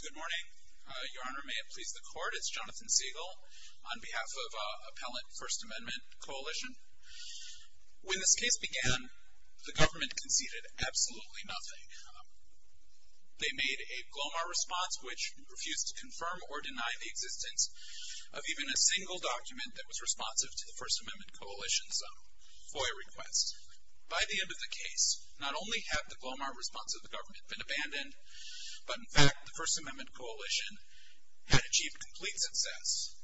Good morning. Your Honor, may it please the Court, it's Jonathan Siegel on behalf of Appellant First Amendment Coalition. When this case began, the government conceded absolutely nothing. They made a GLOMAR response, which refused to confirm or deny the existence of even a single document that was responsive to the First Amendment Coalition's FOIA request. By the end of the case, not only had the GLOMAR response of the government been abandoned, but in fact the First Amendment Coalition had achieved complete success.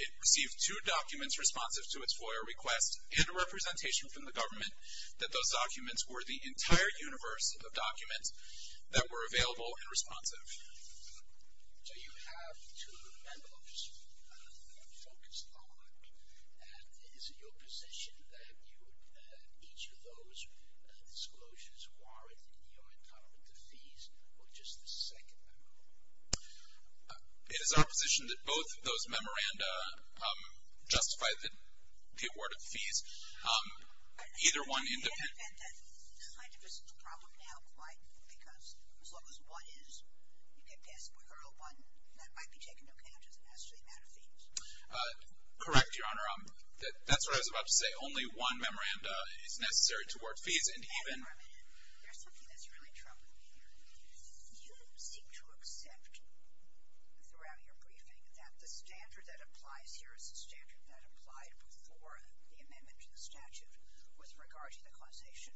It received two documents responsive to its FOIA request and a representation from the government that those documents were the entire universe of documents that were available and responsive. So you have two memorandums focused on. Is it your position that each of those disclosures warrant your entitlement to fees, or just the second memorandum? It is our position that both of those memoranda justify the award of fees. Either one... And that kind of is the problem now. Why? Because as long as one is, you can pass Booker L. 1, that might be taken into account as the necessary amount of fees. Correct, Your Honor. That's what I was about to say. Only one memoranda is necessary to award fees, and even... There's something that's really troubling me here. You seem to accept, throughout your briefing, that the standard that applies here is the standard that applied before the amendment to the statute with regard to the causation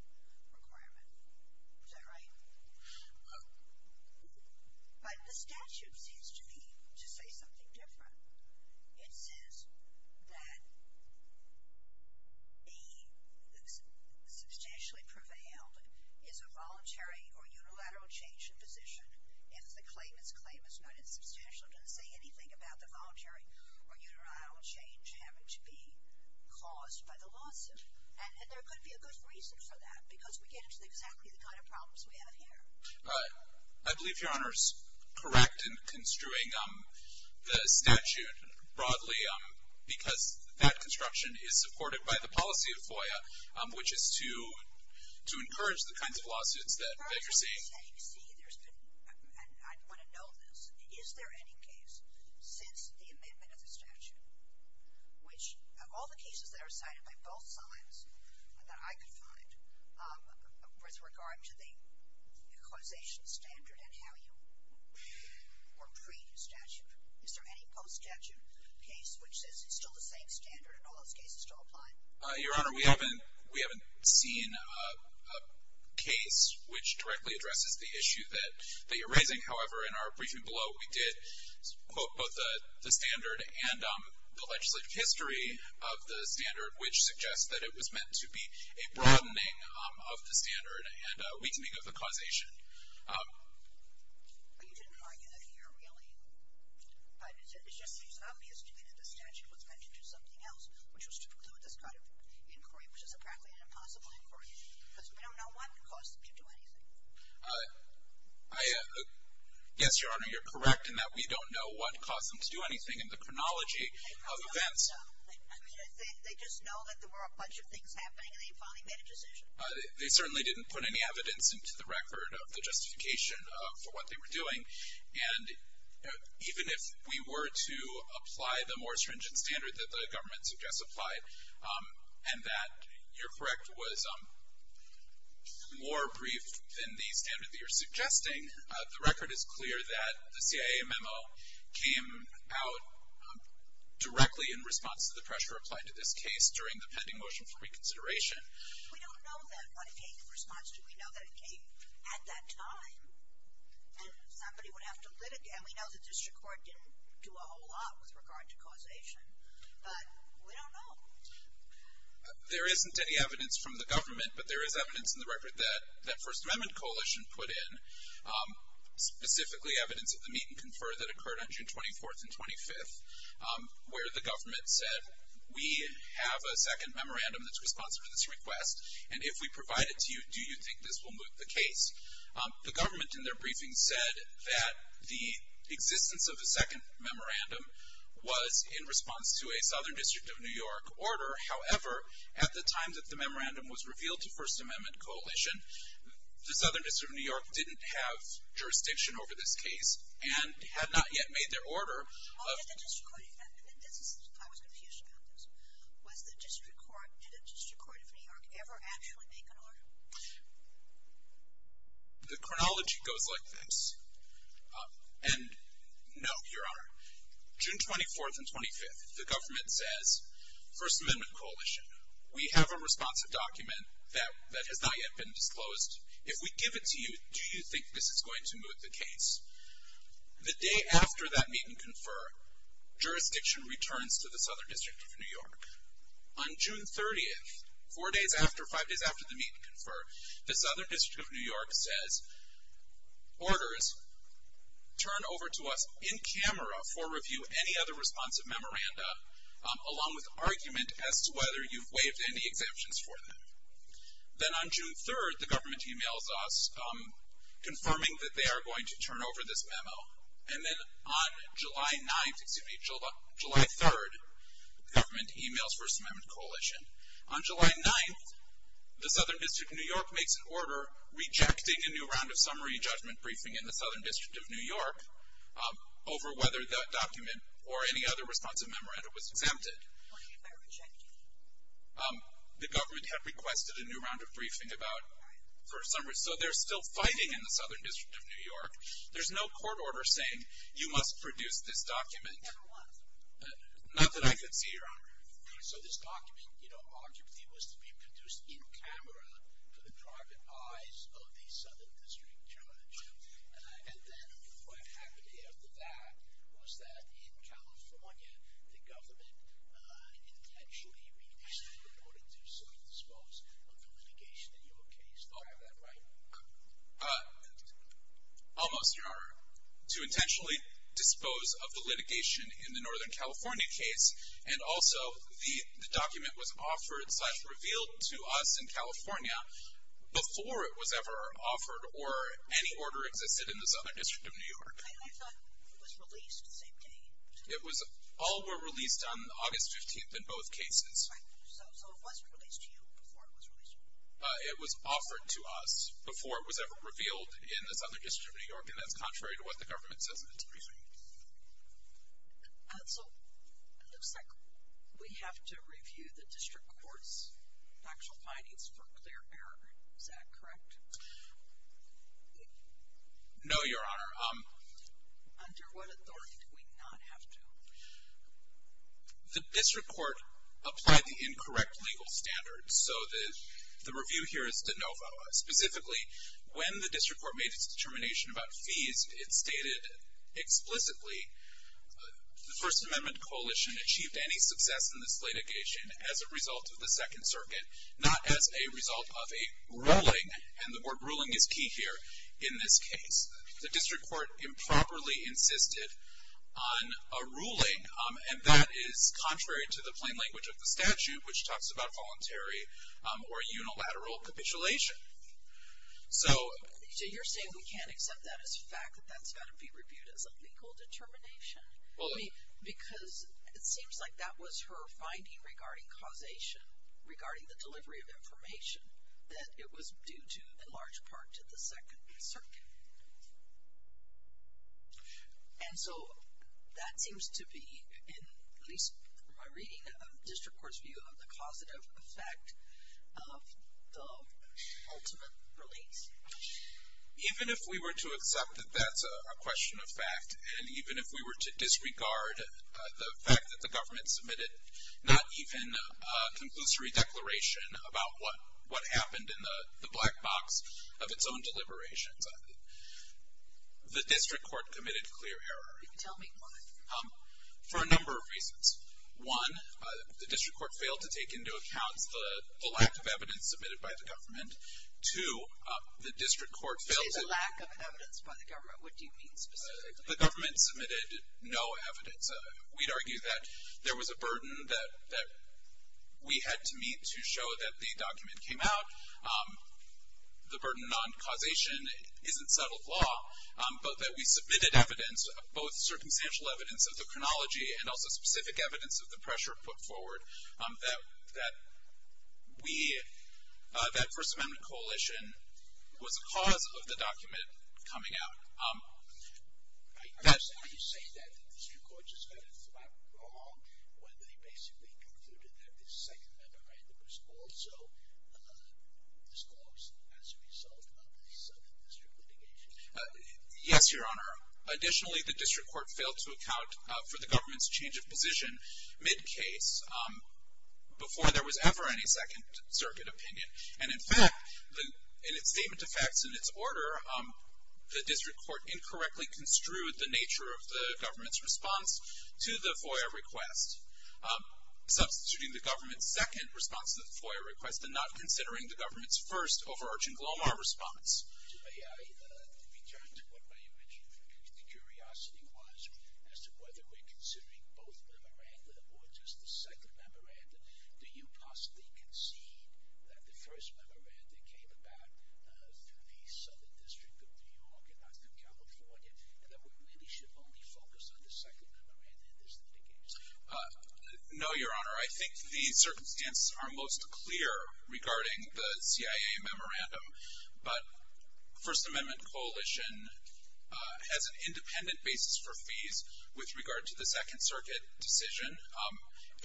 requirement. Is that right? But the statute seems to me to say something different. It says that a substantially prevailed is a voluntary or unilateral change in position. If the claimant's claim is not insubstantial, it doesn't say anything about the voluntary or unilateral change having to be caused by the lawsuit. And there could be a good reason for that, because we get into exactly the kind of problems we have here. I believe Your Honor is correct in construing the statute broadly, because that construction is supported by the policy of FOIA, which is to encourage the kinds of lawsuits that you're seeing. You're saying, see, there's been, and I want to know this, is there any case since the amendment of the statute, which of all the cases that are cited by both sides that I could find, with regard to the causation standard and how you were pre-statute, is there any post-statute case which says it's still the same standard and all those cases still apply? Your Honor, we haven't seen a case which directly addresses the issue that you're raising. However, in our briefing below, we did quote both the standard and the legislative history of the standard, which suggests that it was meant to be a broadening of the standard and a weakening of the causation. Well, you didn't argue that here, really. It just seems obvious to me that the statute was meant to do something else, which was to include this kind of inquiry, which is apparently an impossible inquiry, because we don't know what caused them to do anything. Yes, Your Honor, you're correct in that we don't know what caused them to do anything in the chronology of events. They just know that there were a bunch of things happening and they finally made a decision. They certainly didn't put any evidence into the record of the justification for what they were doing. And even if we were to apply the more stringent standard that the government suggests applied, and that, you're correct, was more brief than the standard that you're suggesting, the record is clear that the CIA memo came out directly in response to the pressure applied to this case during the pending motion for reconsideration. We don't know that what it came in response to. We know that it came at that time and somebody would have to litigate. And we know the district court didn't do a whole lot with regard to causation, but we don't know. There isn't any evidence from the government, but there is evidence in the record that First Amendment Coalition put in, specifically evidence of the meet and confer that occurred on June 24th and 25th, where the government said, we have a second memorandum that's responsive to this request, and if we provide it to you, do you think this will move the case? The government in their briefing said that the existence of a second memorandum was in response to a Southern District of New York order. However, at the time that the memorandum was revealed to First Amendment Coalition, the Southern District of New York didn't have jurisdiction over this case and had not yet made their order. I was confused about this. Did the District Court of New York ever actually make an order? The chronology goes like this. And no, Your Honor, June 24th and 25th, the government says, First Amendment Coalition, we have a responsive document that has not yet been disclosed. If we give it to you, do you think this is going to move the case? The day after that meet and confer, jurisdiction returns to the Southern District of New York. On June 30th, four days after, five days after the meet and confer, the Southern District of New York says, Orders, turn over to us in camera for review any other responsive memoranda, along with argument as to whether you've waived any exemptions for them. Then on June 3rd, the government emails us confirming that they are going to turn over this memo. And then on July 9th, excuse me, July 3rd, the government emails First Amendment Coalition. On July 9th, the Southern District of New York makes an order rejecting a new round of summary judgment briefing in the Southern District of New York over whether that document or any other responsive memoranda was exempted. Why did they reject it? The government had requested a new round of briefing about first summary. So they're still fighting in the Southern District of New York. There's no court order saying you must produce this document. Never was. Not that I could see your honor. So this document, you know, was to be produced in camera for the private eyes of the Southern District Judge. And then what happened after that was that in California, the government intentionally requested an order to self-dispose of the litigation in your case. Do I have that right? Almost, your honor. To intentionally dispose of the litigation in the Northern California case, and also the document was offered, such revealed to us in California, before it was ever offered or any order existed in the Southern District of New York. I thought it was released the same day. It was. All were released on August 15th in both cases. So it wasn't released to you before it was released? It was offered to us before it was ever revealed in the Southern District of New York, and that's contrary to what the government says in its briefing. So it looks like we have to review the district court's factual findings for clear error. Is that correct? No, your honor. Under what authority do we not have to? The district court applied the incorrect legal standards. So the review here is de novo. Specifically, when the district court made its determination about fees, it stated explicitly the First Amendment Coalition achieved any success in this litigation as a result of the Second Circuit, not as a result of a ruling, and the word ruling is key here in this case. The district court improperly insisted on a ruling, and that is contrary to the plain language of the statute, which talks about voluntary or unilateral capitulation. So you're saying we can't accept that as fact, that that's got to be reviewed as a legal determination? Because it seems like that was her finding regarding causation, regarding the delivery of information, that it was due to, in large part, to the Second Circuit. And so that seems to be, at least from my reading, a district court's view of the causative effect of the ultimate release. Even if we were to accept that that's a question of fact, and even if we were to disregard the fact that the government submitted not even a conclusory declaration about what happened in the black box of its own deliberations, the district court committed clear error. Tell me why. For a number of reasons. One, the district court failed to take into account the lack of evidence submitted by the government. Two, the district court failed to... She said lack of evidence by the government. What do you mean specifically? The government submitted no evidence. We'd argue that there was a burden that we had to meet to show that the document came out. The burden on causation isn't settled law, but that we submitted evidence, both circumstantial evidence of the chronology and also specific evidence of the pressure put forward, that we, that First Amendment coalition, was a cause of the document coming out. Are you saying that the district court just got it flat wrong when they basically concluded that the Second Amendment was also disclosed as a result of the Southern District litigation? Yes, Your Honor. Additionally, the district court failed to account for the government's change of position mid-case before there was ever any Second Circuit opinion. And, in fact, in its statement to facts in its order, the district court incorrectly construed the nature of the government's response to the FOIA request, substituting the government's second response to the FOIA request and not considering the government's first overarching GLOMAR response. May I return to what my original curiosity was as to whether we're considering both memoranda or just the second memoranda? Do you possibly concede that the first memoranda came about through the Southern District of New York and not through California, and that we really should only focus on the second memoranda in this litigation? No, Your Honor. I think the circumstances are most clear regarding the CIA memoranda, but the First Amendment Coalition has an independent basis for fees with regard to the Second Circuit decision. I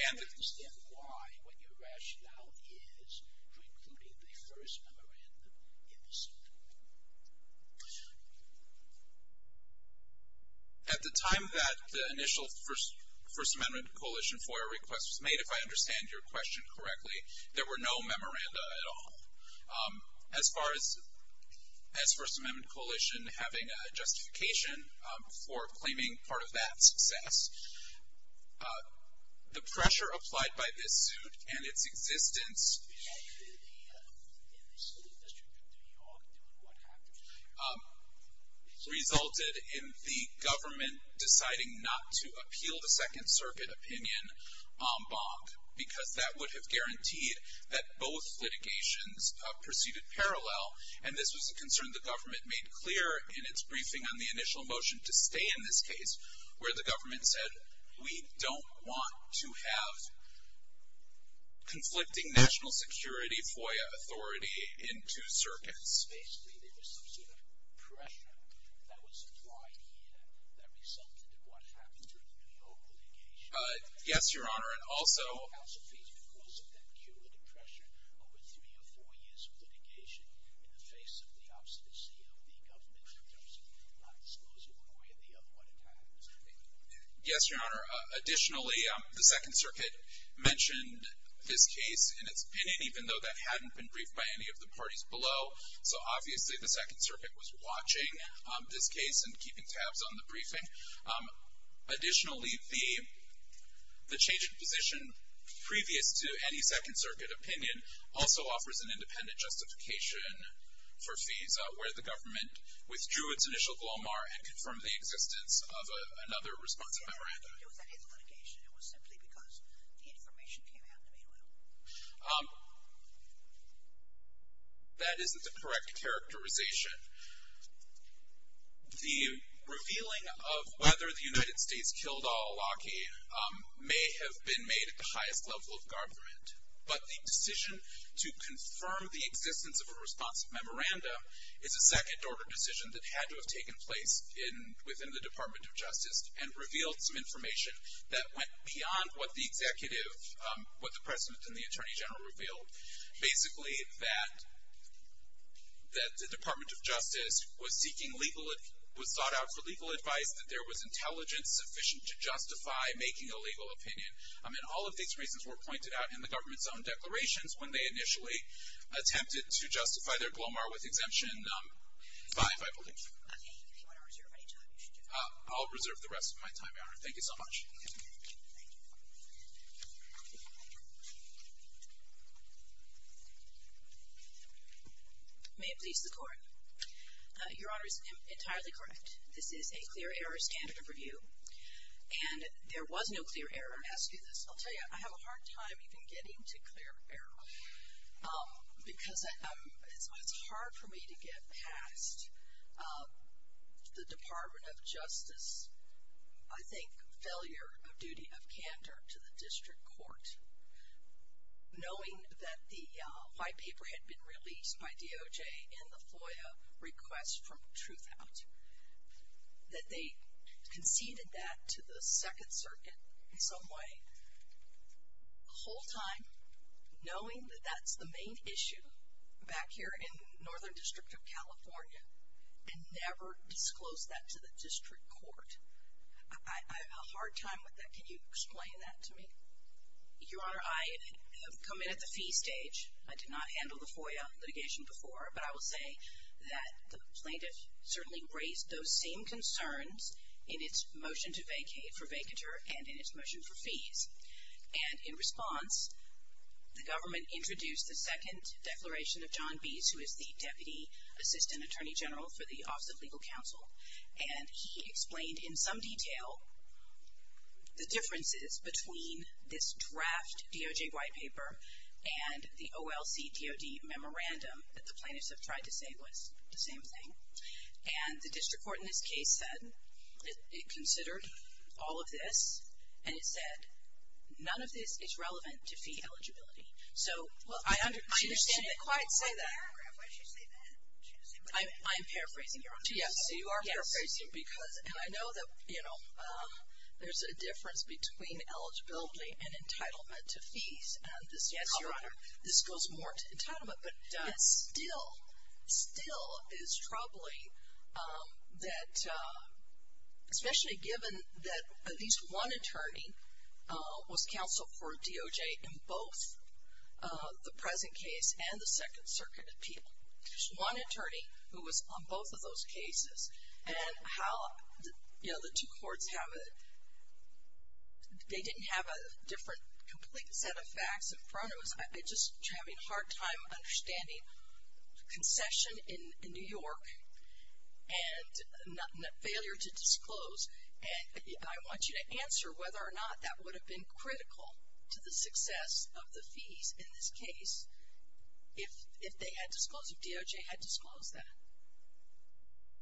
don't understand why when your rationale is for including the first memoranda in the second memoranda. At the time that the initial First Amendment Coalition FOIA request was made, if I understand your question correctly, there were no memoranda at all. As far as First Amendment Coalition having a justification for claiming part of that success, the pressure applied by this suit and its existence resulted in the government deciding not to appeal the Second Circuit opinion en banc because that would have guaranteed that both litigations proceeded parallel. And this was a concern the government made clear in its briefing on the initial motion to stay in this case, where the government said, we don't want to have conflicting national security FOIA authority in two circuits. Basically, there was some sort of pressure that was applied here that resulted in what happened during the New York litigation. Yes, Your Honor. And also, The New York House of Appeals, because of that cumulative pressure over three or four years of litigation in the face of the obstinacy of the government in terms of not disclosing clearly of what had happened. Yes, Your Honor. Additionally, the Second Circuit mentioned this case in its opinion, even though that hadn't been briefed by any of the parties below. So, obviously, the Second Circuit was watching this case and keeping tabs on the briefing. Additionally, the change in position previous to any Second Circuit opinion also offers an independent justification for FISA, where the government withdrew its initial glomar and confirmed the existence of another responsive memorandum. It was at his litigation. It was simply because the information came out in the main room. That isn't the correct characterization. The revealing of whether the United States killed al-Awlaki may have been made at the highest level of government, but the decision to confirm the existence of a responsive memorandum is a second-order decision that had to have taken place within the Department of Justice and revealed some information that went beyond what the executive, what the President and the Attorney General revealed. Basically, that the Department of Justice was sought out for legal advice, that there was intelligence sufficient to justify making a legal opinion. And all of these reasons were pointed out in the government's own declarations when they initially attempted to justify their glomar with Exemption 5, I believe. Okay. If you want to reserve any time, you should do that. I'll reserve the rest of my time, Your Honor. Thank you so much. Thank you. May it please the Court. Your Honor is entirely correct. This is a clear error standard of review, and there was no clear error as to this. I'll tell you, I have a hard time even getting to clear error because it's hard for me to get past the Department of Justice, I think, failure of duty of candor to the district court, knowing that the white paper had been released by DOJ in the FOIA request from Truthout, that they conceded that to the Second Circuit in some way. The whole time, knowing that that's the main issue back here in Northern District of California, and never disclosed that to the district court. I have a hard time with that. Can you explain that to me? Your Honor, I have come in at the fee stage. I did not handle the FOIA litigation before, but I will say that the plaintiff certainly raised those same concerns in its motion to vacate for vacatur and in its motion for fees. And in response, the government introduced the second declaration of John Bees, who is the Deputy Assistant Attorney General for the Office of Legal Counsel, and he explained in some detail the differences between this draft DOJ white paper and the OLC DOD memorandum that the plaintiffs have tried to say was the same thing. And the district court in this case said it considered all of this, and it said none of this is relevant to fee eligibility. So I understand that. Why did she say that? I'm paraphrasing. Yes, you are paraphrasing because I know that, you know, there's a difference between eligibility and entitlement to fees. Yes, Your Honor. This goes more to entitlement. But it still, still is troubling that, especially given that at least one attorney was counseled for DOJ in both the present case and the Second Circuit appeal. There's one attorney who was on both of those cases. And how, you know, the two courts have a, they didn't have a different complete set of facts in front of us. I'm just having a hard time understanding concession in New York and failure to disclose. And I want you to answer whether or not that would have been critical to the success of the fees in this case if they had disclosed, if DOJ had disclosed that.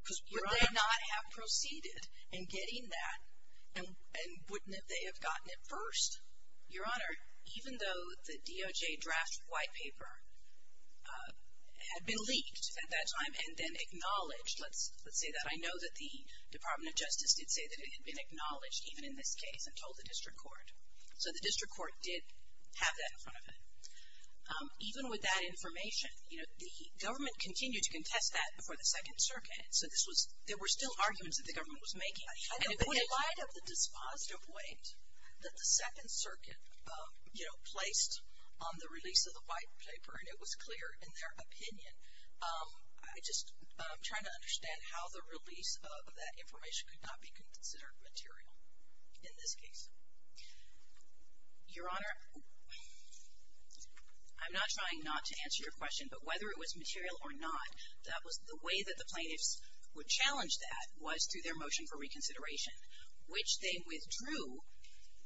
Because would they not have proceeded in getting that, and wouldn't they have gotten it first? Your Honor, even though the DOJ draft white paper had been leaked at that time and then acknowledged, let's say that I know that the Department of Justice did say that it had been acknowledged, even in this case, and told the district court. So the district court did have that in front of it. Even with that information, you know, the government continued to contest that before the Second Circuit. So this was, there were still arguments that the government was making. And in light of the dispositive weight that the Second Circuit, you know, placed on the release of the white paper, and it was clear in their opinion, I just, I'm trying to understand how the release of that information could not be considered material in this case. Your Honor, I'm not trying not to answer your question, but whether it was material or not, that was the way that the plaintiffs would challenge that was through their motion for reconsideration, which they withdrew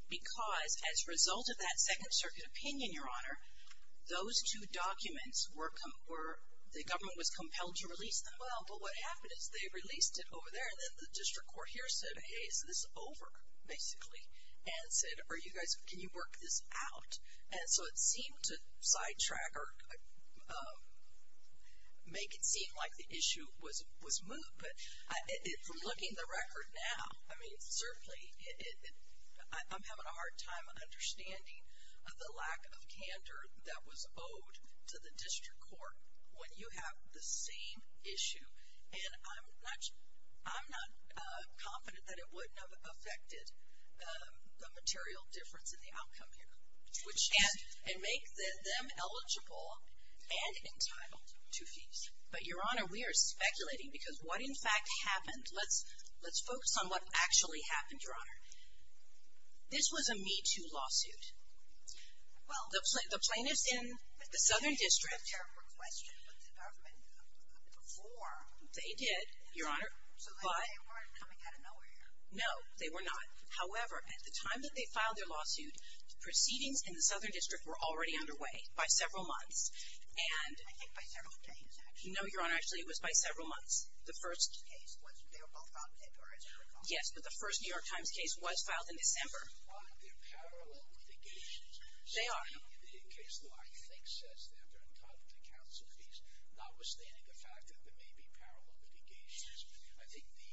because as a result of that Second Circuit opinion, Your Honor, those two documents were, the government was compelled to release them. Well, but what happened is they released it over there, and then the district court here said, hey, is this over, basically? And said, are you guys, can you work this out? And so it seemed to sidetrack or make it seem like the issue was moved, but from looking at the record now, I mean, certainly I'm having a hard time understanding the lack of candor that was owed to the district court when you have the same issue, and I'm not confident that it wouldn't have affected the material difference in the outcome here, and make them eligible and entitled to fees. But, Your Honor, we are speculating because what in fact happened, let's focus on what actually happened, Your Honor. This was a Me Too lawsuit. Well, the plaintiffs in the Southern District. But they didn't have a request from the government before. They did, Your Honor, but. So they weren't coming out of nowhere here. No, they were not. However, at the time that they filed their lawsuit, proceedings in the Southern District were already underway by several months, and. I think by several days, actually. No, Your Honor, actually it was by several months. The first case was, they were both filed in February, as I recall. Yes, but the first New York Times case was filed in December. But they're parallel litigations. They are. In the case law, I think says that they're entitled to counsel fees, notwithstanding the fact that there may be parallel litigations. I think the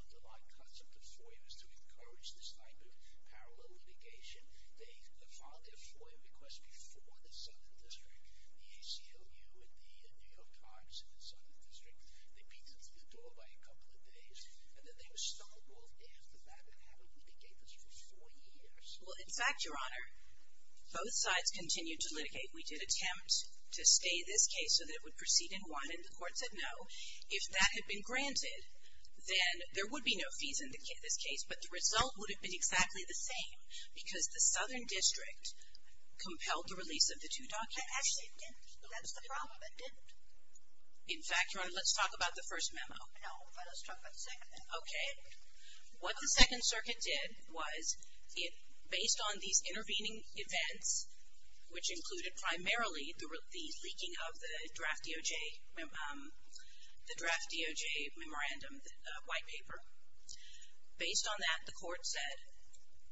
underlying concept of FOIA is to encourage this type of parallel litigation. They filed their FOIA request before the Southern District. The ACLU and the New York Times in the Southern District, they beat them to the door by a couple of days, and then they were stumbled after that and haven't litigated for four years. Well, in fact, Your Honor, both sides continued to litigate. We did attempt to stay this case so that it would proceed in one, and the court said no. If that had been granted, then there would be no fees in this case, but the result would have been exactly the same because the Southern District compelled the release of the two documents. Actually, it didn't. That's the problem. It didn't. In fact, Your Honor, let's talk about the first memo. No, but let's talk about the second memo. Okay. What the Second Circuit did was, based on these intervening events, which included primarily the leaking of the draft DOJ memorandum, the white paper, based on that, the court said,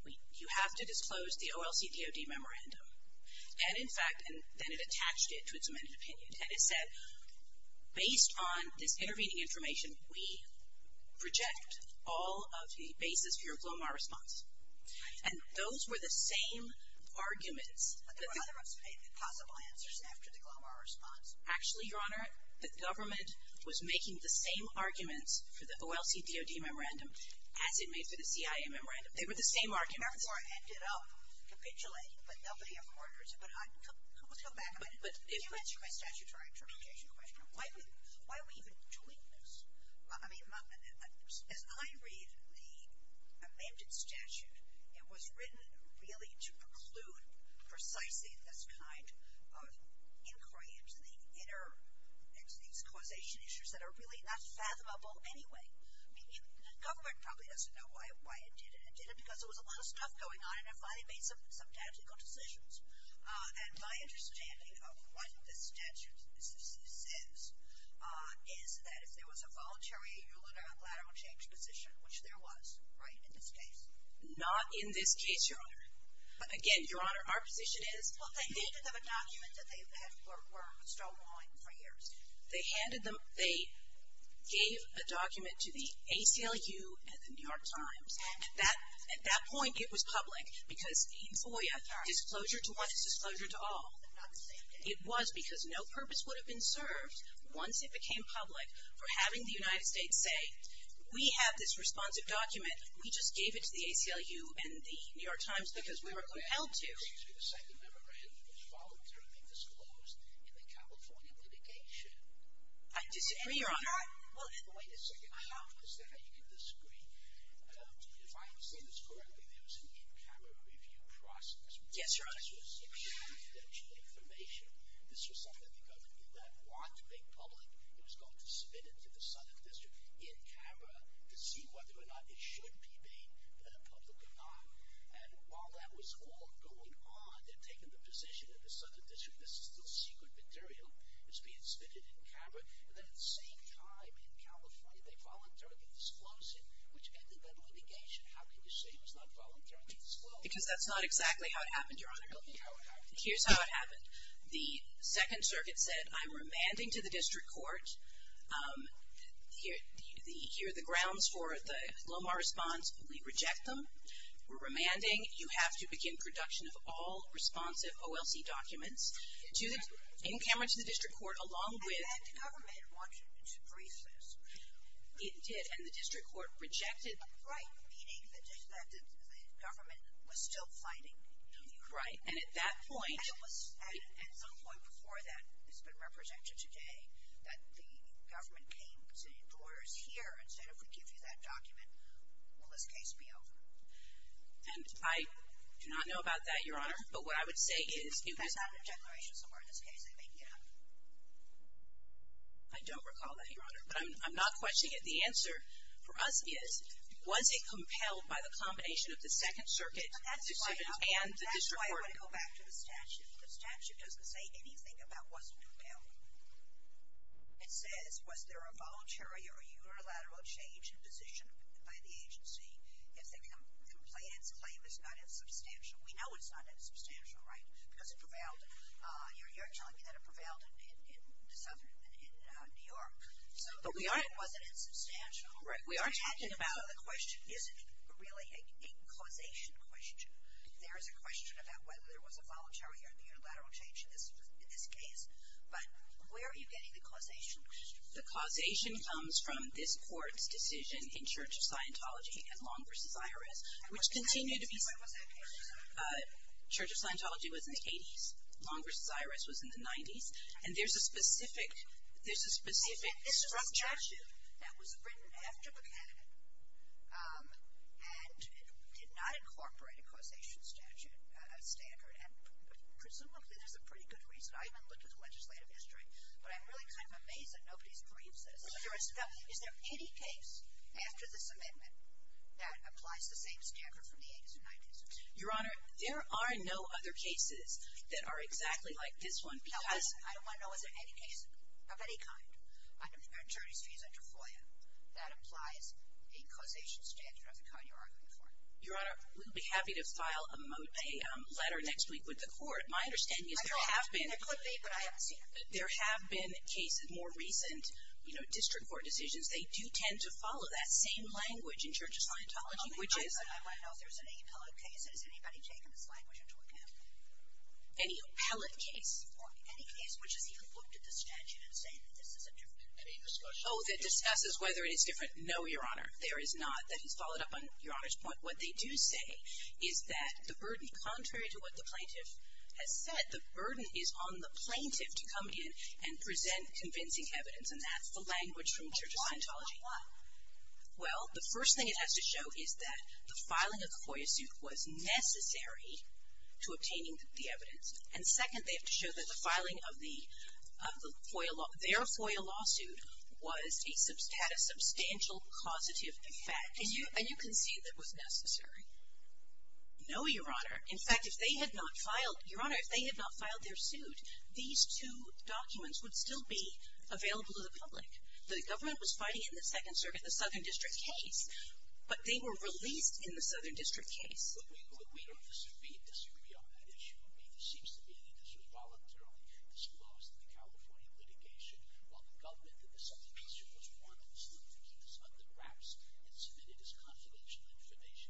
you have to disclose the OLC DOD memorandum. And, in fact, then it attached it to its amended opinion. And it said, based on this intervening information, we reject all of the basis for your Glomar response. And those were the same arguments. But there were other possible answers after the Glomar response. Actually, Your Honor, the government was making the same arguments for the OLC DOD memorandum as it made for the CIA memorandum. They were the same arguments. Therefore, it ended up capitulating, but nobody accorded it. But let's go back a minute. Can you answer my statutory interpretation question? Why are we even doing this? I mean, as I read the amended statute, it was written really to preclude precisely this kind of inquiry into these causation issues that are really not fathomable anyway. The government probably doesn't know why it did it. It did it because there was a lot of stuff going on, and it finally made some tactical decisions. And my understanding of what this statute says is that there was a voluntary unilateral change position, which there was, right, in this case. Not in this case, Your Honor. Again, Your Honor, our position is they handed them a document that they were still wanting for years. They gave a document to the ACLU and the New York Times. At that point, it was public because in FOIA, disclosure to what? It's disclosure to all. Not the same day. It was because no purpose would have been served once it became public for having the United States say, we have this responsive document. We just gave it to the ACLU and the New York Times because we were compelled to. Excuse me. The second memorandum was followed through and being disclosed in the California litigation. I disagree, Your Honor. Well, wait a second. How is that you can disagree? If I understand this correctly, there was an in-camera review process. Yes, Your Honor. This was confidential information. This was something that the government did not want to make public. It was going to submit it to the Southern District in-camera to see whether or not it should be made public or not. And while that was all going on, they've taken the position that the Southern District, this is still secret material, is being submitted in-camera. And then at the same time in California, they voluntarily disclosed it, which ended that litigation. How can you say it was not voluntarily disclosed? Because that's not exactly how it happened, Your Honor. Tell me how it happened. Here's how it happened. The Second Circuit said, I'm remanding to the District Court. Here are the grounds for the Lomar response. We reject them. We're remanding. You have to begin production of all responsive OLC documents. In-camera to the District Court, along with. And the government wanted to freeze this. It did. And the District Court rejected. Right. Meaning that the government was still fighting. Right. And at that point. And it was at some point before that, it's been represented today, that the government came to orders here and said, if we give you that document, will this case be over? And I do not know about that, Your Honor. But what I would say is. That's not in the declaration somewhere in this case. I think, you know. I don't recall that, Your Honor. But I'm not questioning it. The answer for us is, was it compelled by the combination of the Second Circuit decision and the District Court. That's why I want to go back to the statute. The statute doesn't say anything about was it compelled. It says, was there a voluntary or unilateral change in position by the agency if the complainant's claim is not insubstantial? We know it's not insubstantial, right? Because it prevailed. You're telling me that it prevailed in New York. So was it insubstantial? Right. We are talking about. So the question isn't really a causation question. There is a question about whether there was a voluntary or unilateral change in this case. But where are you getting the causation question? The causation comes from this Court's decision in Church of Scientology and Long v. Iris, which continue to be. When was that case? Church of Scientology was in the 80s. Long v. Iris was in the 90s. And there's a specific. This is a statute that was written after Buchanan and did not incorporate a causation statute standard. And presumably there's a pretty good reason. I haven't looked at the legislative history, but I'm really kind of amazed that nobody agrees with this. Is there any case after this amendment that applies the same standard from the 80s and 90s? Your Honor, there are no other cases that are exactly like this one because. I don't want to know if there's any case of any kind. I don't have an attorney's visa to FOIA that applies a causation standard of the kind you're arguing for. Your Honor, we'll be happy to file a letter next week with the Court. My understanding is there have been. There could be, but I haven't seen it. There have been cases, more recent district court decisions. They do tend to follow that same language in Church of Scientology, which is. I want to know if there's an appellate case. Has anybody taken this language into account? Any appellate case? Or any case which has even looked at the statute and said that this is a different case? Oh, that discusses whether it is different? No, Your Honor, there is not. That has followed up on Your Honor's point. What they do say is that the burden, contrary to what the plaintiff has said, the burden is on the plaintiff to come in and present convincing evidence, and that's the language from Church of Scientology. Why? Why? Why? Well, the first thing it has to show is that the filing of the FOIA suit was necessary to obtaining the evidence. And second, they have to show that the filing of the FOIA, their FOIA lawsuit had a substantial causative effect. And you concede that it was necessary? No, Your Honor. In fact, if they had not filed, Your Honor, if they had not filed their suit, these two documents would still be available to the public. The government was fighting it in the Second Circuit, the Southern District case, but they were released in the Southern District case. But we don't disagree on that issue. It seems to me that this was voluntarily disclosed in the California litigation while the government in the Southern District was one of the students who was under wraps and submitted his confidential information.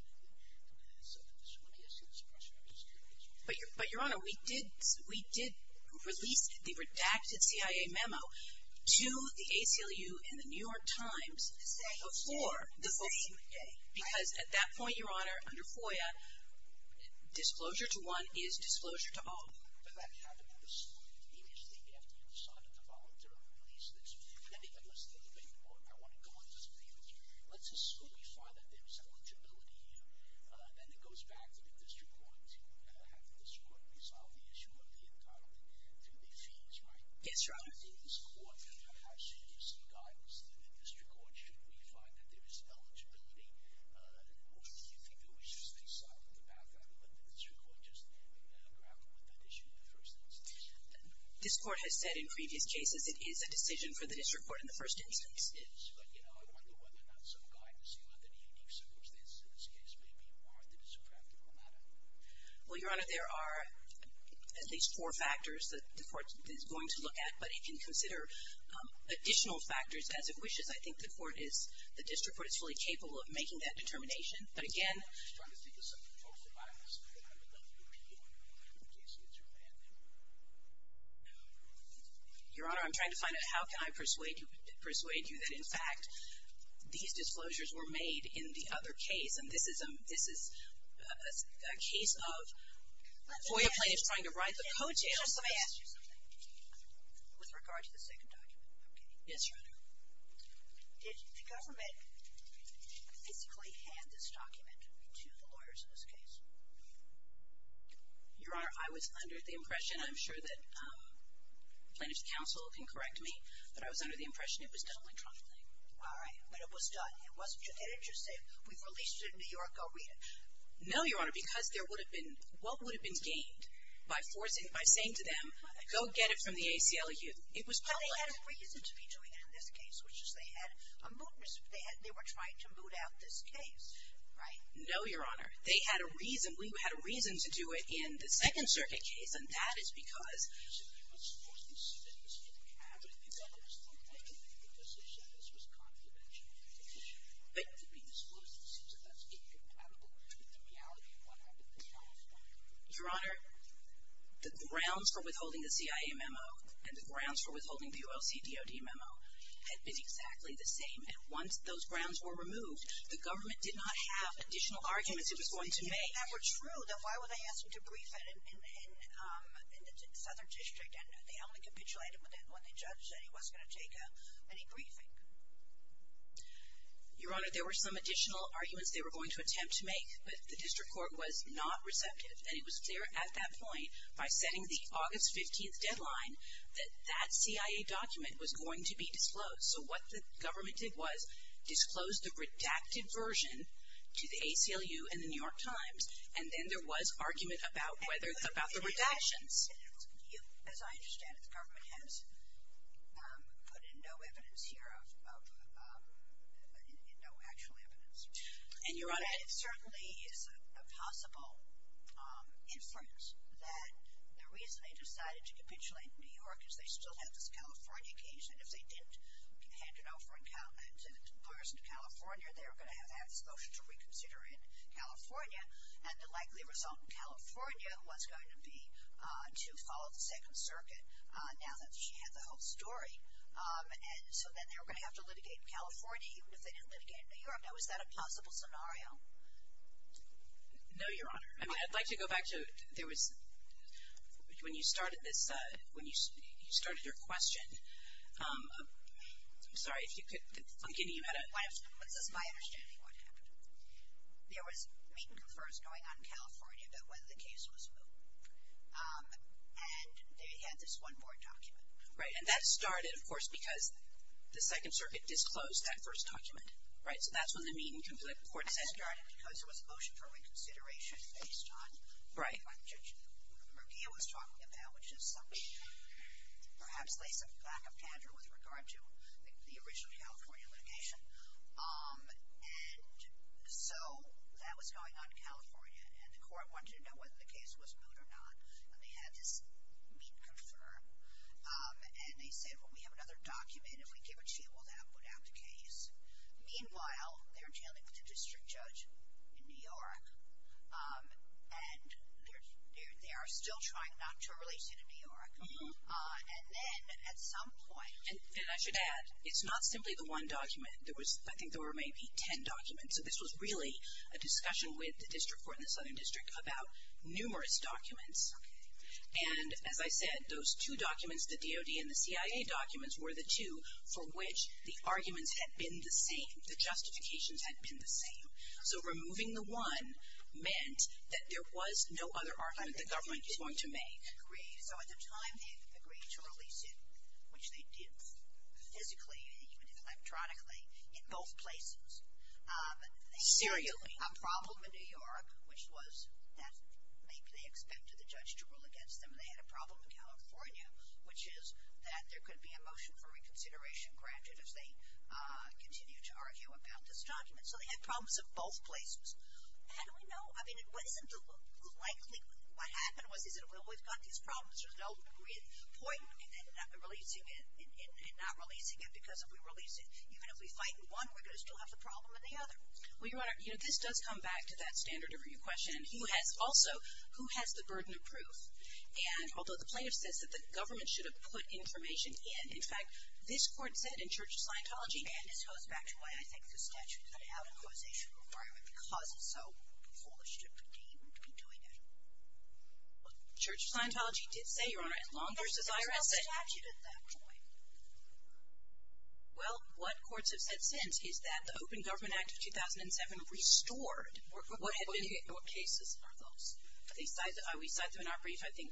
So let me ask you this question. But, Your Honor, we did release the redacted CIA memo to the ACLU and the New York Times before the FOIA. Because at that point, Your Honor, under FOIA, disclosure to one is disclosure to all. But that happened in the school immediately after you decided to volunteer to release this. Let me listen to the debate more. I want to go on this debate with you. Let's assume we find that there is some legibility here. Then it goes back to the district courts. You're going to have the district court resolve the issue of the entitlement through the feeds, right? Yes, Your Honor. In this court, how serious is the guidance of the district court should we find that there is eligibility? Or do you think that we should stay silent in the background and let the district court just then grapple with that issue in the first instance? This court has said in previous cases it is a decision for the district court in the first instance. It is. But, you know, I wonder whether or not some guidance, even under the unique circumstances in this case, may be more than is a practical matter. Well, Your Honor, there are at least four factors that the court is going to look at. But it can consider additional factors as it wishes. I think the court is, the district court is fully capable of making that determination. But, again. Your Honor, I'm trying to find out how can I persuade you that, in fact, these disclosures were made in the other case. And this is a case of FOIA plaintiffs trying to write the code jail. Let me ask you something. With regard to the second document. Yes, Your Honor. Did the government physically hand this document to the lawyers in this case? Your Honor, I was under the impression. I'm sure that plaintiff's counsel can correct me. But I was under the impression it was done electronically. All right. But it was done. It didn't just say, we've released it in New York. Go read it. No, Your Honor. Because there would have been, what would have been gained by forcing, by saying to them, go get it from the ACLU. It was public. But they had a reason to be doing it in this case. They were trying to boot out this case, right? No, Your Honor. They had a reason. We had a reason to do it in the Second Circuit case. And that is because. Your Honor, the grounds for withholding the CIA memo and the grounds for withholding the ULC DOD memo had been exactly the same. And once those grounds were removed, the government did not have additional arguments it was going to make. If that were true, then why would they ask him to brief it in the Southern District and they only capitulated when the judge said he wasn't going to take any briefing? Your Honor, there were some additional arguments they were going to attempt to make. But the district court was not receptive. And it was clear at that point by setting the August 15th deadline that that CIA document was going to be disclosed. So what the government did was disclose the redacted version to the ACLU and the New York Times. And then there was argument about whether it's about the redactions. As I understand it, the government has put in no evidence here, no actual evidence. And, Your Honor. And it certainly is a possible influence that the reason they decided to capitulate in New York is they still have this California case. And if they didn't hand it over in comparison to California, they were going to have to have this motion to reconsider in California. And the likely result in California was going to be to follow the Second Circuit, now that she had the whole story. And so then they were going to have to litigate in California, even if they didn't litigate in New York. Now, is that a possible scenario? No, Your Honor. I mean, I'd like to go back to there was, when you started this, when you started your question, I'm sorry, if you could, I'm getting you at it. It was just my understanding of what happened. There was meet and confers going on in California about whether the case was moved. And they had this one board document. Right. And that started, of course, because the Second Circuit disclosed that first document. Right. So that's when the meet and confer report started. And that started because there was a motion for reconsideration based on what Judge Murguia was talking about, which is something that perhaps lays some lack of candor with regard to the original California litigation. And so that was going on in California. And the court wanted to know whether the case was moved or not. And they had this meet and confirm. And they said, well, we have another document. If we give it to you, will that put out the case? Meanwhile, they're dealing with a district judge in New York. And they are still trying not to release it in New York. And then at some point. And I should add, it's not simply the one document. I think there were maybe ten documents. So this was really a discussion with the district court and the Southern District about numerous documents. And as I said, those two documents, the DOD and the CIA documents, were the two for which the arguments had been the same, the justifications had been the same. So removing the one meant that there was no other argument the government was going to make. So at the time they agreed to release it, which they did physically and even electronically in both places. But they had a problem in New York, which was that maybe they expected the judge to rule against them. They had a problem in California, which is that there could be a motion for reconsideration granted if they continue to argue about this document. So they had problems in both places. How do we know? I mean, what is it likely, what happened was, is it we've always got these problems, there's no point in not releasing it because if we release it, even if we fight in one, we're going to still have the problem in the other. Well, Your Honor, this does come back to that standard of review question. Who has also, who has the burden of proof? And although the plaintiff says that the government should have put information in, in fact, this court said in Church of Scientology, and this goes back to why I think the statute is an out-of-causation requirement because it's so foolish to be doing that. Church of Scientology did say, Your Honor, as long as there's an IRS statute at that point. Well, what courts have said since is that the Open Government Act of 2007 restored what had been cases for those. We cited them in our brief, I think.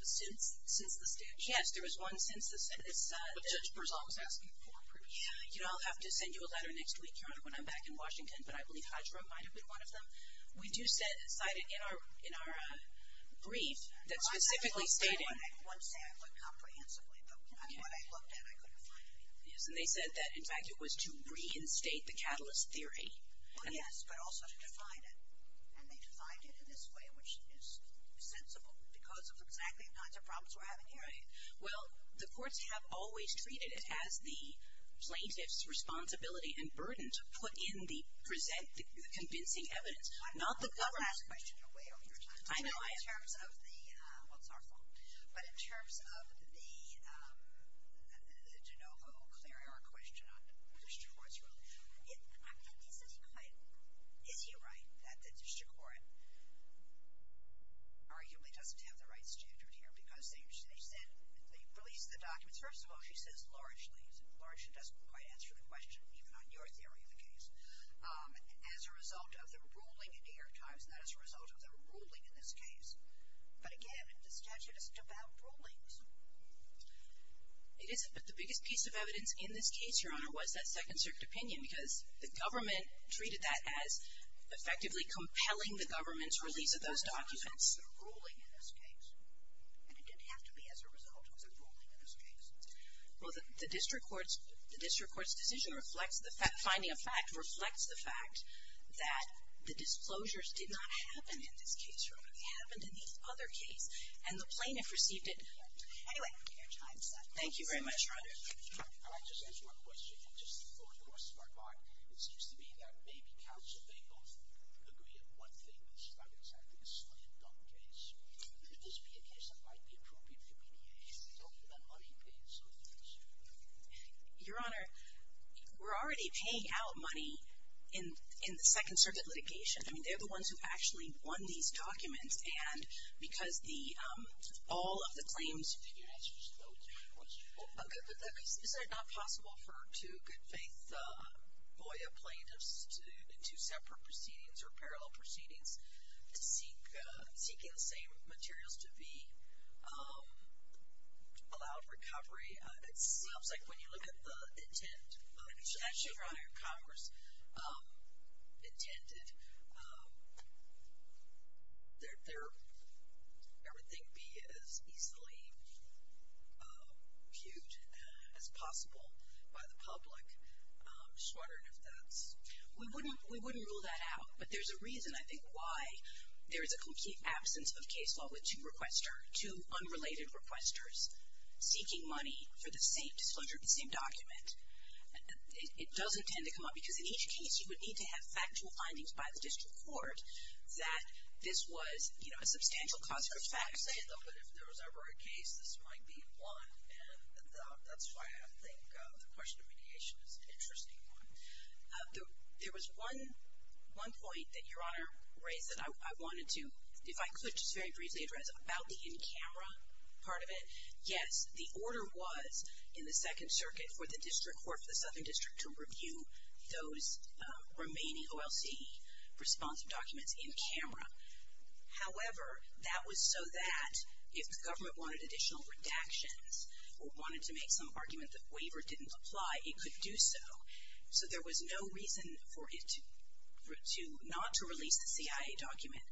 Since the statute? Yes, there was one since the statute. But Judge Berzal was asking for proof. Yeah. You know, I'll have to send you a letter next week, Your Honor, when I'm back in Washington, but I believe Hajra might have been one of them. We do cite it in our brief that specifically stated. Well, I don't want to say I looked comprehensively, but what I looked at, I couldn't find anything. Yes, and they said that, in fact, it was to reinstate the catalyst theory. Well, yes, but also to define it. And they defined it in this way, which is sensible because of exactly the kinds of problems we're having here. Right. Well, the courts have always treated it as the plaintiff's responsibility and burden to put in the convincing evidence, not the government's. I've been asked that question a way over your time. I know. In terms of the – well, it's our fault. But in terms of the DeNovo-Clarion question on the district court's ruling, is he right that the district court arguably doesn't have the right standard here because they released the documents. First of all, she says largely. Largely doesn't quite answer the question, even on your theory of the case, as a result of the ruling in New York Times, not as a result of the ruling in this case. But, again, the statute isn't about rulings. It isn't, but the biggest piece of evidence in this case, Your Honor, was that Second Circuit opinion because the government treated that as effectively compelling the government's release of those documents. It wasn't a ruling in this case. And it didn't have to be as a result of the ruling in this case. Well, the district court's decision reflects the fact – finding a fact reflects the fact that the disclosures did not happen in this case, Your Honor. They happened in the other case, and the plaintiff received it. Anyway, your time is up. Thank you very much, Your Honor. Can I just ask one question? And just for a smart buy, it seems to me that maybe counsel may both agree on one thing. This is not exactly a slam-dunk case. Could this be a case that might be appropriate for BDA? We're talking about money-paying services. Your Honor, we're already paying out money in the Second Circuit litigation. I mean, they're the ones who actually won these documents. And because all of the claims – Can you answer just those three questions? Is it not possible for two good-faith BOIA plaintiffs in two separate proceedings or parallel proceedings to seek – seeking the same materials to be allowed recovery? It seems like when you look at the intent – Actually, Your Honor, Congress intended there would be as easily viewed as possible by the public. I'm just wondering if that's – We wouldn't rule that out. But there's a reason, I think, why there is a complete absence of case law with two unrelated requesters seeking money for the same disclosure of the same document. It doesn't tend to come up. Because in each case, you would need to have factual findings by the district court that this was, you know, a substantial consequence. I would say, though, that if there was ever a case, this might be one. And that's why I think the question of mediation is an interesting one. There was one point that Your Honor raised that I wanted to, if I could just very briefly address, about the in-camera part of it. Yes, the order was in the Second Circuit for the district court, for the Southern District, to review those remaining OLC responsive documents in camera. However, that was so that if the government wanted additional redactions or wanted to make some argument that waiver didn't apply, it could do so. So there was no reason for it not to release the CIA document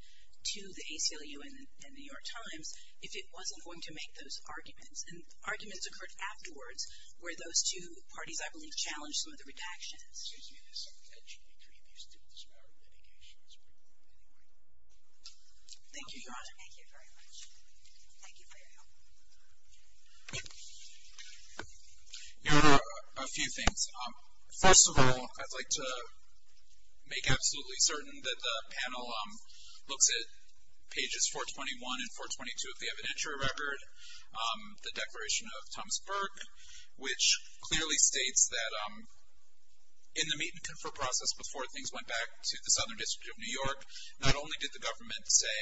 to the ACLU and The New York Times if it wasn't going to make those arguments. And arguments occurred afterwards where those two parties, I believe, challenged some of the redactions. Excuse me. This is something that should be treated as part of mediation. Thank you, Your Honor. Thank you very much. Thank you for your help. Your Honor, a few things. First of all, I'd like to make absolutely certain that the panel looks at pages 421 and 422 of the evidentiary record, the Declaration of Thomas Burke, which clearly states that in the meet and confer process, before things went back to the Southern District of New York, not only did the government say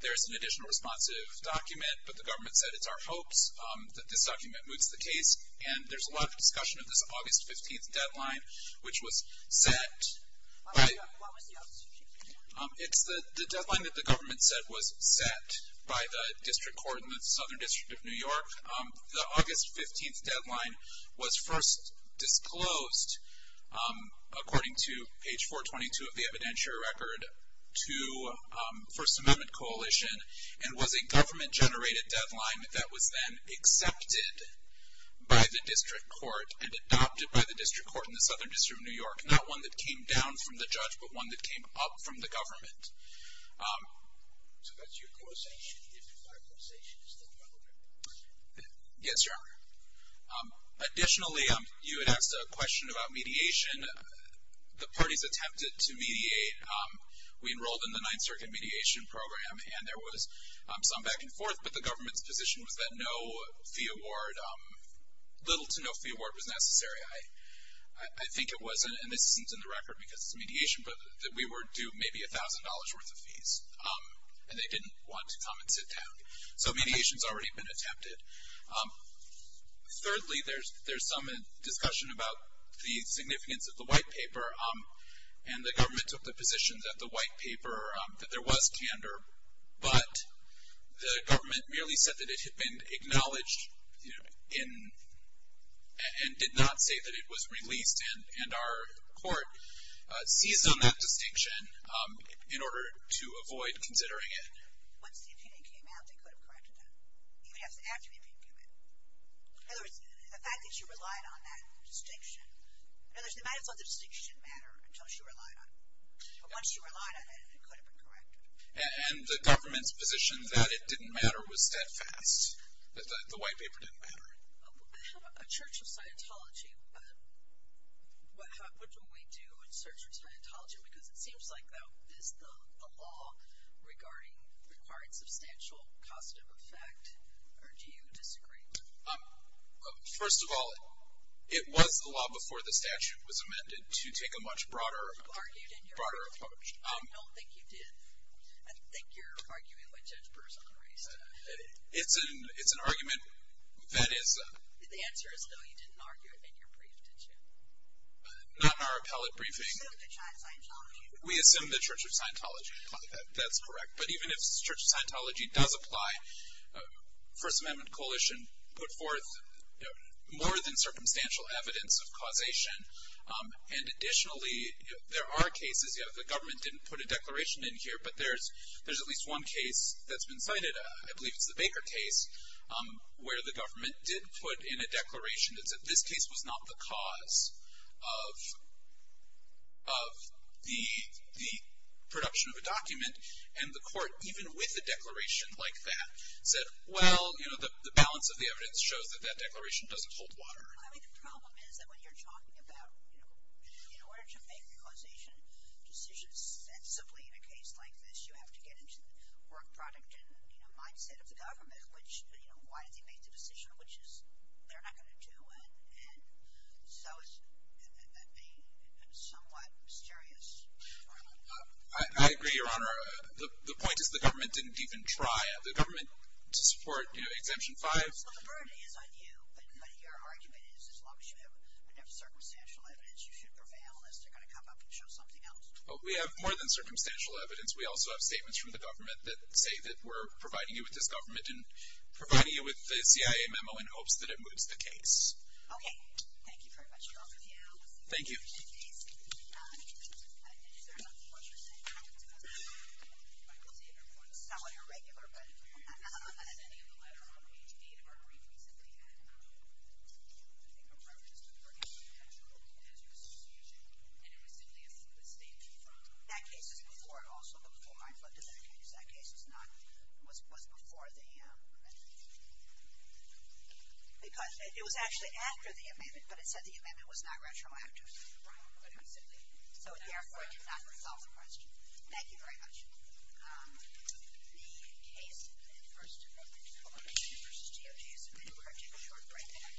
there's an additional responsive document, but the government said it's our hopes that this document moves the case. And there's a lot of discussion of this August 15th deadline, which was set by... What was the August 15th deadline? It's the deadline that the government said was set by the district court in the Southern District of New York. The August 15th deadline was first disclosed, according to page 422 of the evidentiary record, to First Amendment coalition and was a government-generated deadline that was then accepted by the district court and adopted by the district court in the Southern District of New York, not one that came down from the judge, but one that came up from the government. So that's your coalition. You did five coalitions. Is that correct? Yes, Your Honor. Additionally, you had asked a question about mediation. The parties attempted to mediate. We enrolled in the Ninth Circuit mediation program, and there was some back and forth, but the government's position was that no fee award, little to no fee award, was necessary. We were due maybe $1,000 worth of fees, and they didn't want to come and sit down. So mediation's already been attempted. Thirdly, there's some discussion about the significance of the white paper, and the government took the position that the white paper, that there was candor, but the government merely said that it had been acknowledged and did not say that it was released, and our court seized on that distinction in order to avoid considering it. Once the opinion came out, they could have corrected that, even after the opinion came out. In other words, the fact that you relied on that distinction, in other words, they might have thought the distinction didn't matter until she relied on it, but once she relied on it, it could have been corrected. And the government's position that it didn't matter was steadfast, that the white paper didn't matter. A church of Scientology, what do we do in search of Scientology? Because it seems like that is the law regarding required substantial cost of effect, or do you disagree? First of all, it was the law before the statute was amended to take a much broader approach. I don't think you did. I think you're arguing with Judge Burr's own race. It's an argument that is. The answer is no, you didn't argue it in your brief, did you? Not in our appellate briefing. So the Church of Scientology. We assume the Church of Scientology. That's correct. But even if the Church of Scientology does apply, First Amendment Coalition put forth more than circumstantial evidence of causation, and additionally, there are cases, the government didn't put a declaration in here, but there's at least one case that's been cited, I believe it's the Baker case, where the government did put in a declaration that said this case was not the cause of the production of a document. And the court, even with a declaration like that, said, well, the balance of the evidence shows that that declaration doesn't hold water. I mean, the problem is that when you're talking about, you know, in order to make causation decisions sensibly in a case like this, you have to get into the work product and, you know, mindset of the government, which, you know, why did they make the decision, which is they're not going to do it. And so it's somewhat mysterious. I agree, Your Honor. The point is the government didn't even try. The government, to support, you know, Exemption 5. So the burden is on you, but your argument is as long as you have circumstantial evidence, you should prevail unless they're going to come up and show something else. We have more than circumstantial evidence. We also have statements from the government that say that we're providing you with this government and providing you with the CIA memo in hopes that it moves the case. Okay. Thank you very much, Your Honor. Thank you. Is there something else you're saying, Your Honor? It's not what you're regular, but. I'm not familiar with any of the letter on page 8 of our briefings that they had. I think a reference to the work of the National Cancer Association, and it was simply a statement from. That case is before it also, before I flooded that case. That case is not, was before the amendment. Because it was actually after the amendment, but it said the amendment was not retroactive. Right. But it was simply. So, therefore, it did not resolve the question. Thank you very much. The case in the first amendment, Coalition v. DOJ, is submitted. We're going to take a short break.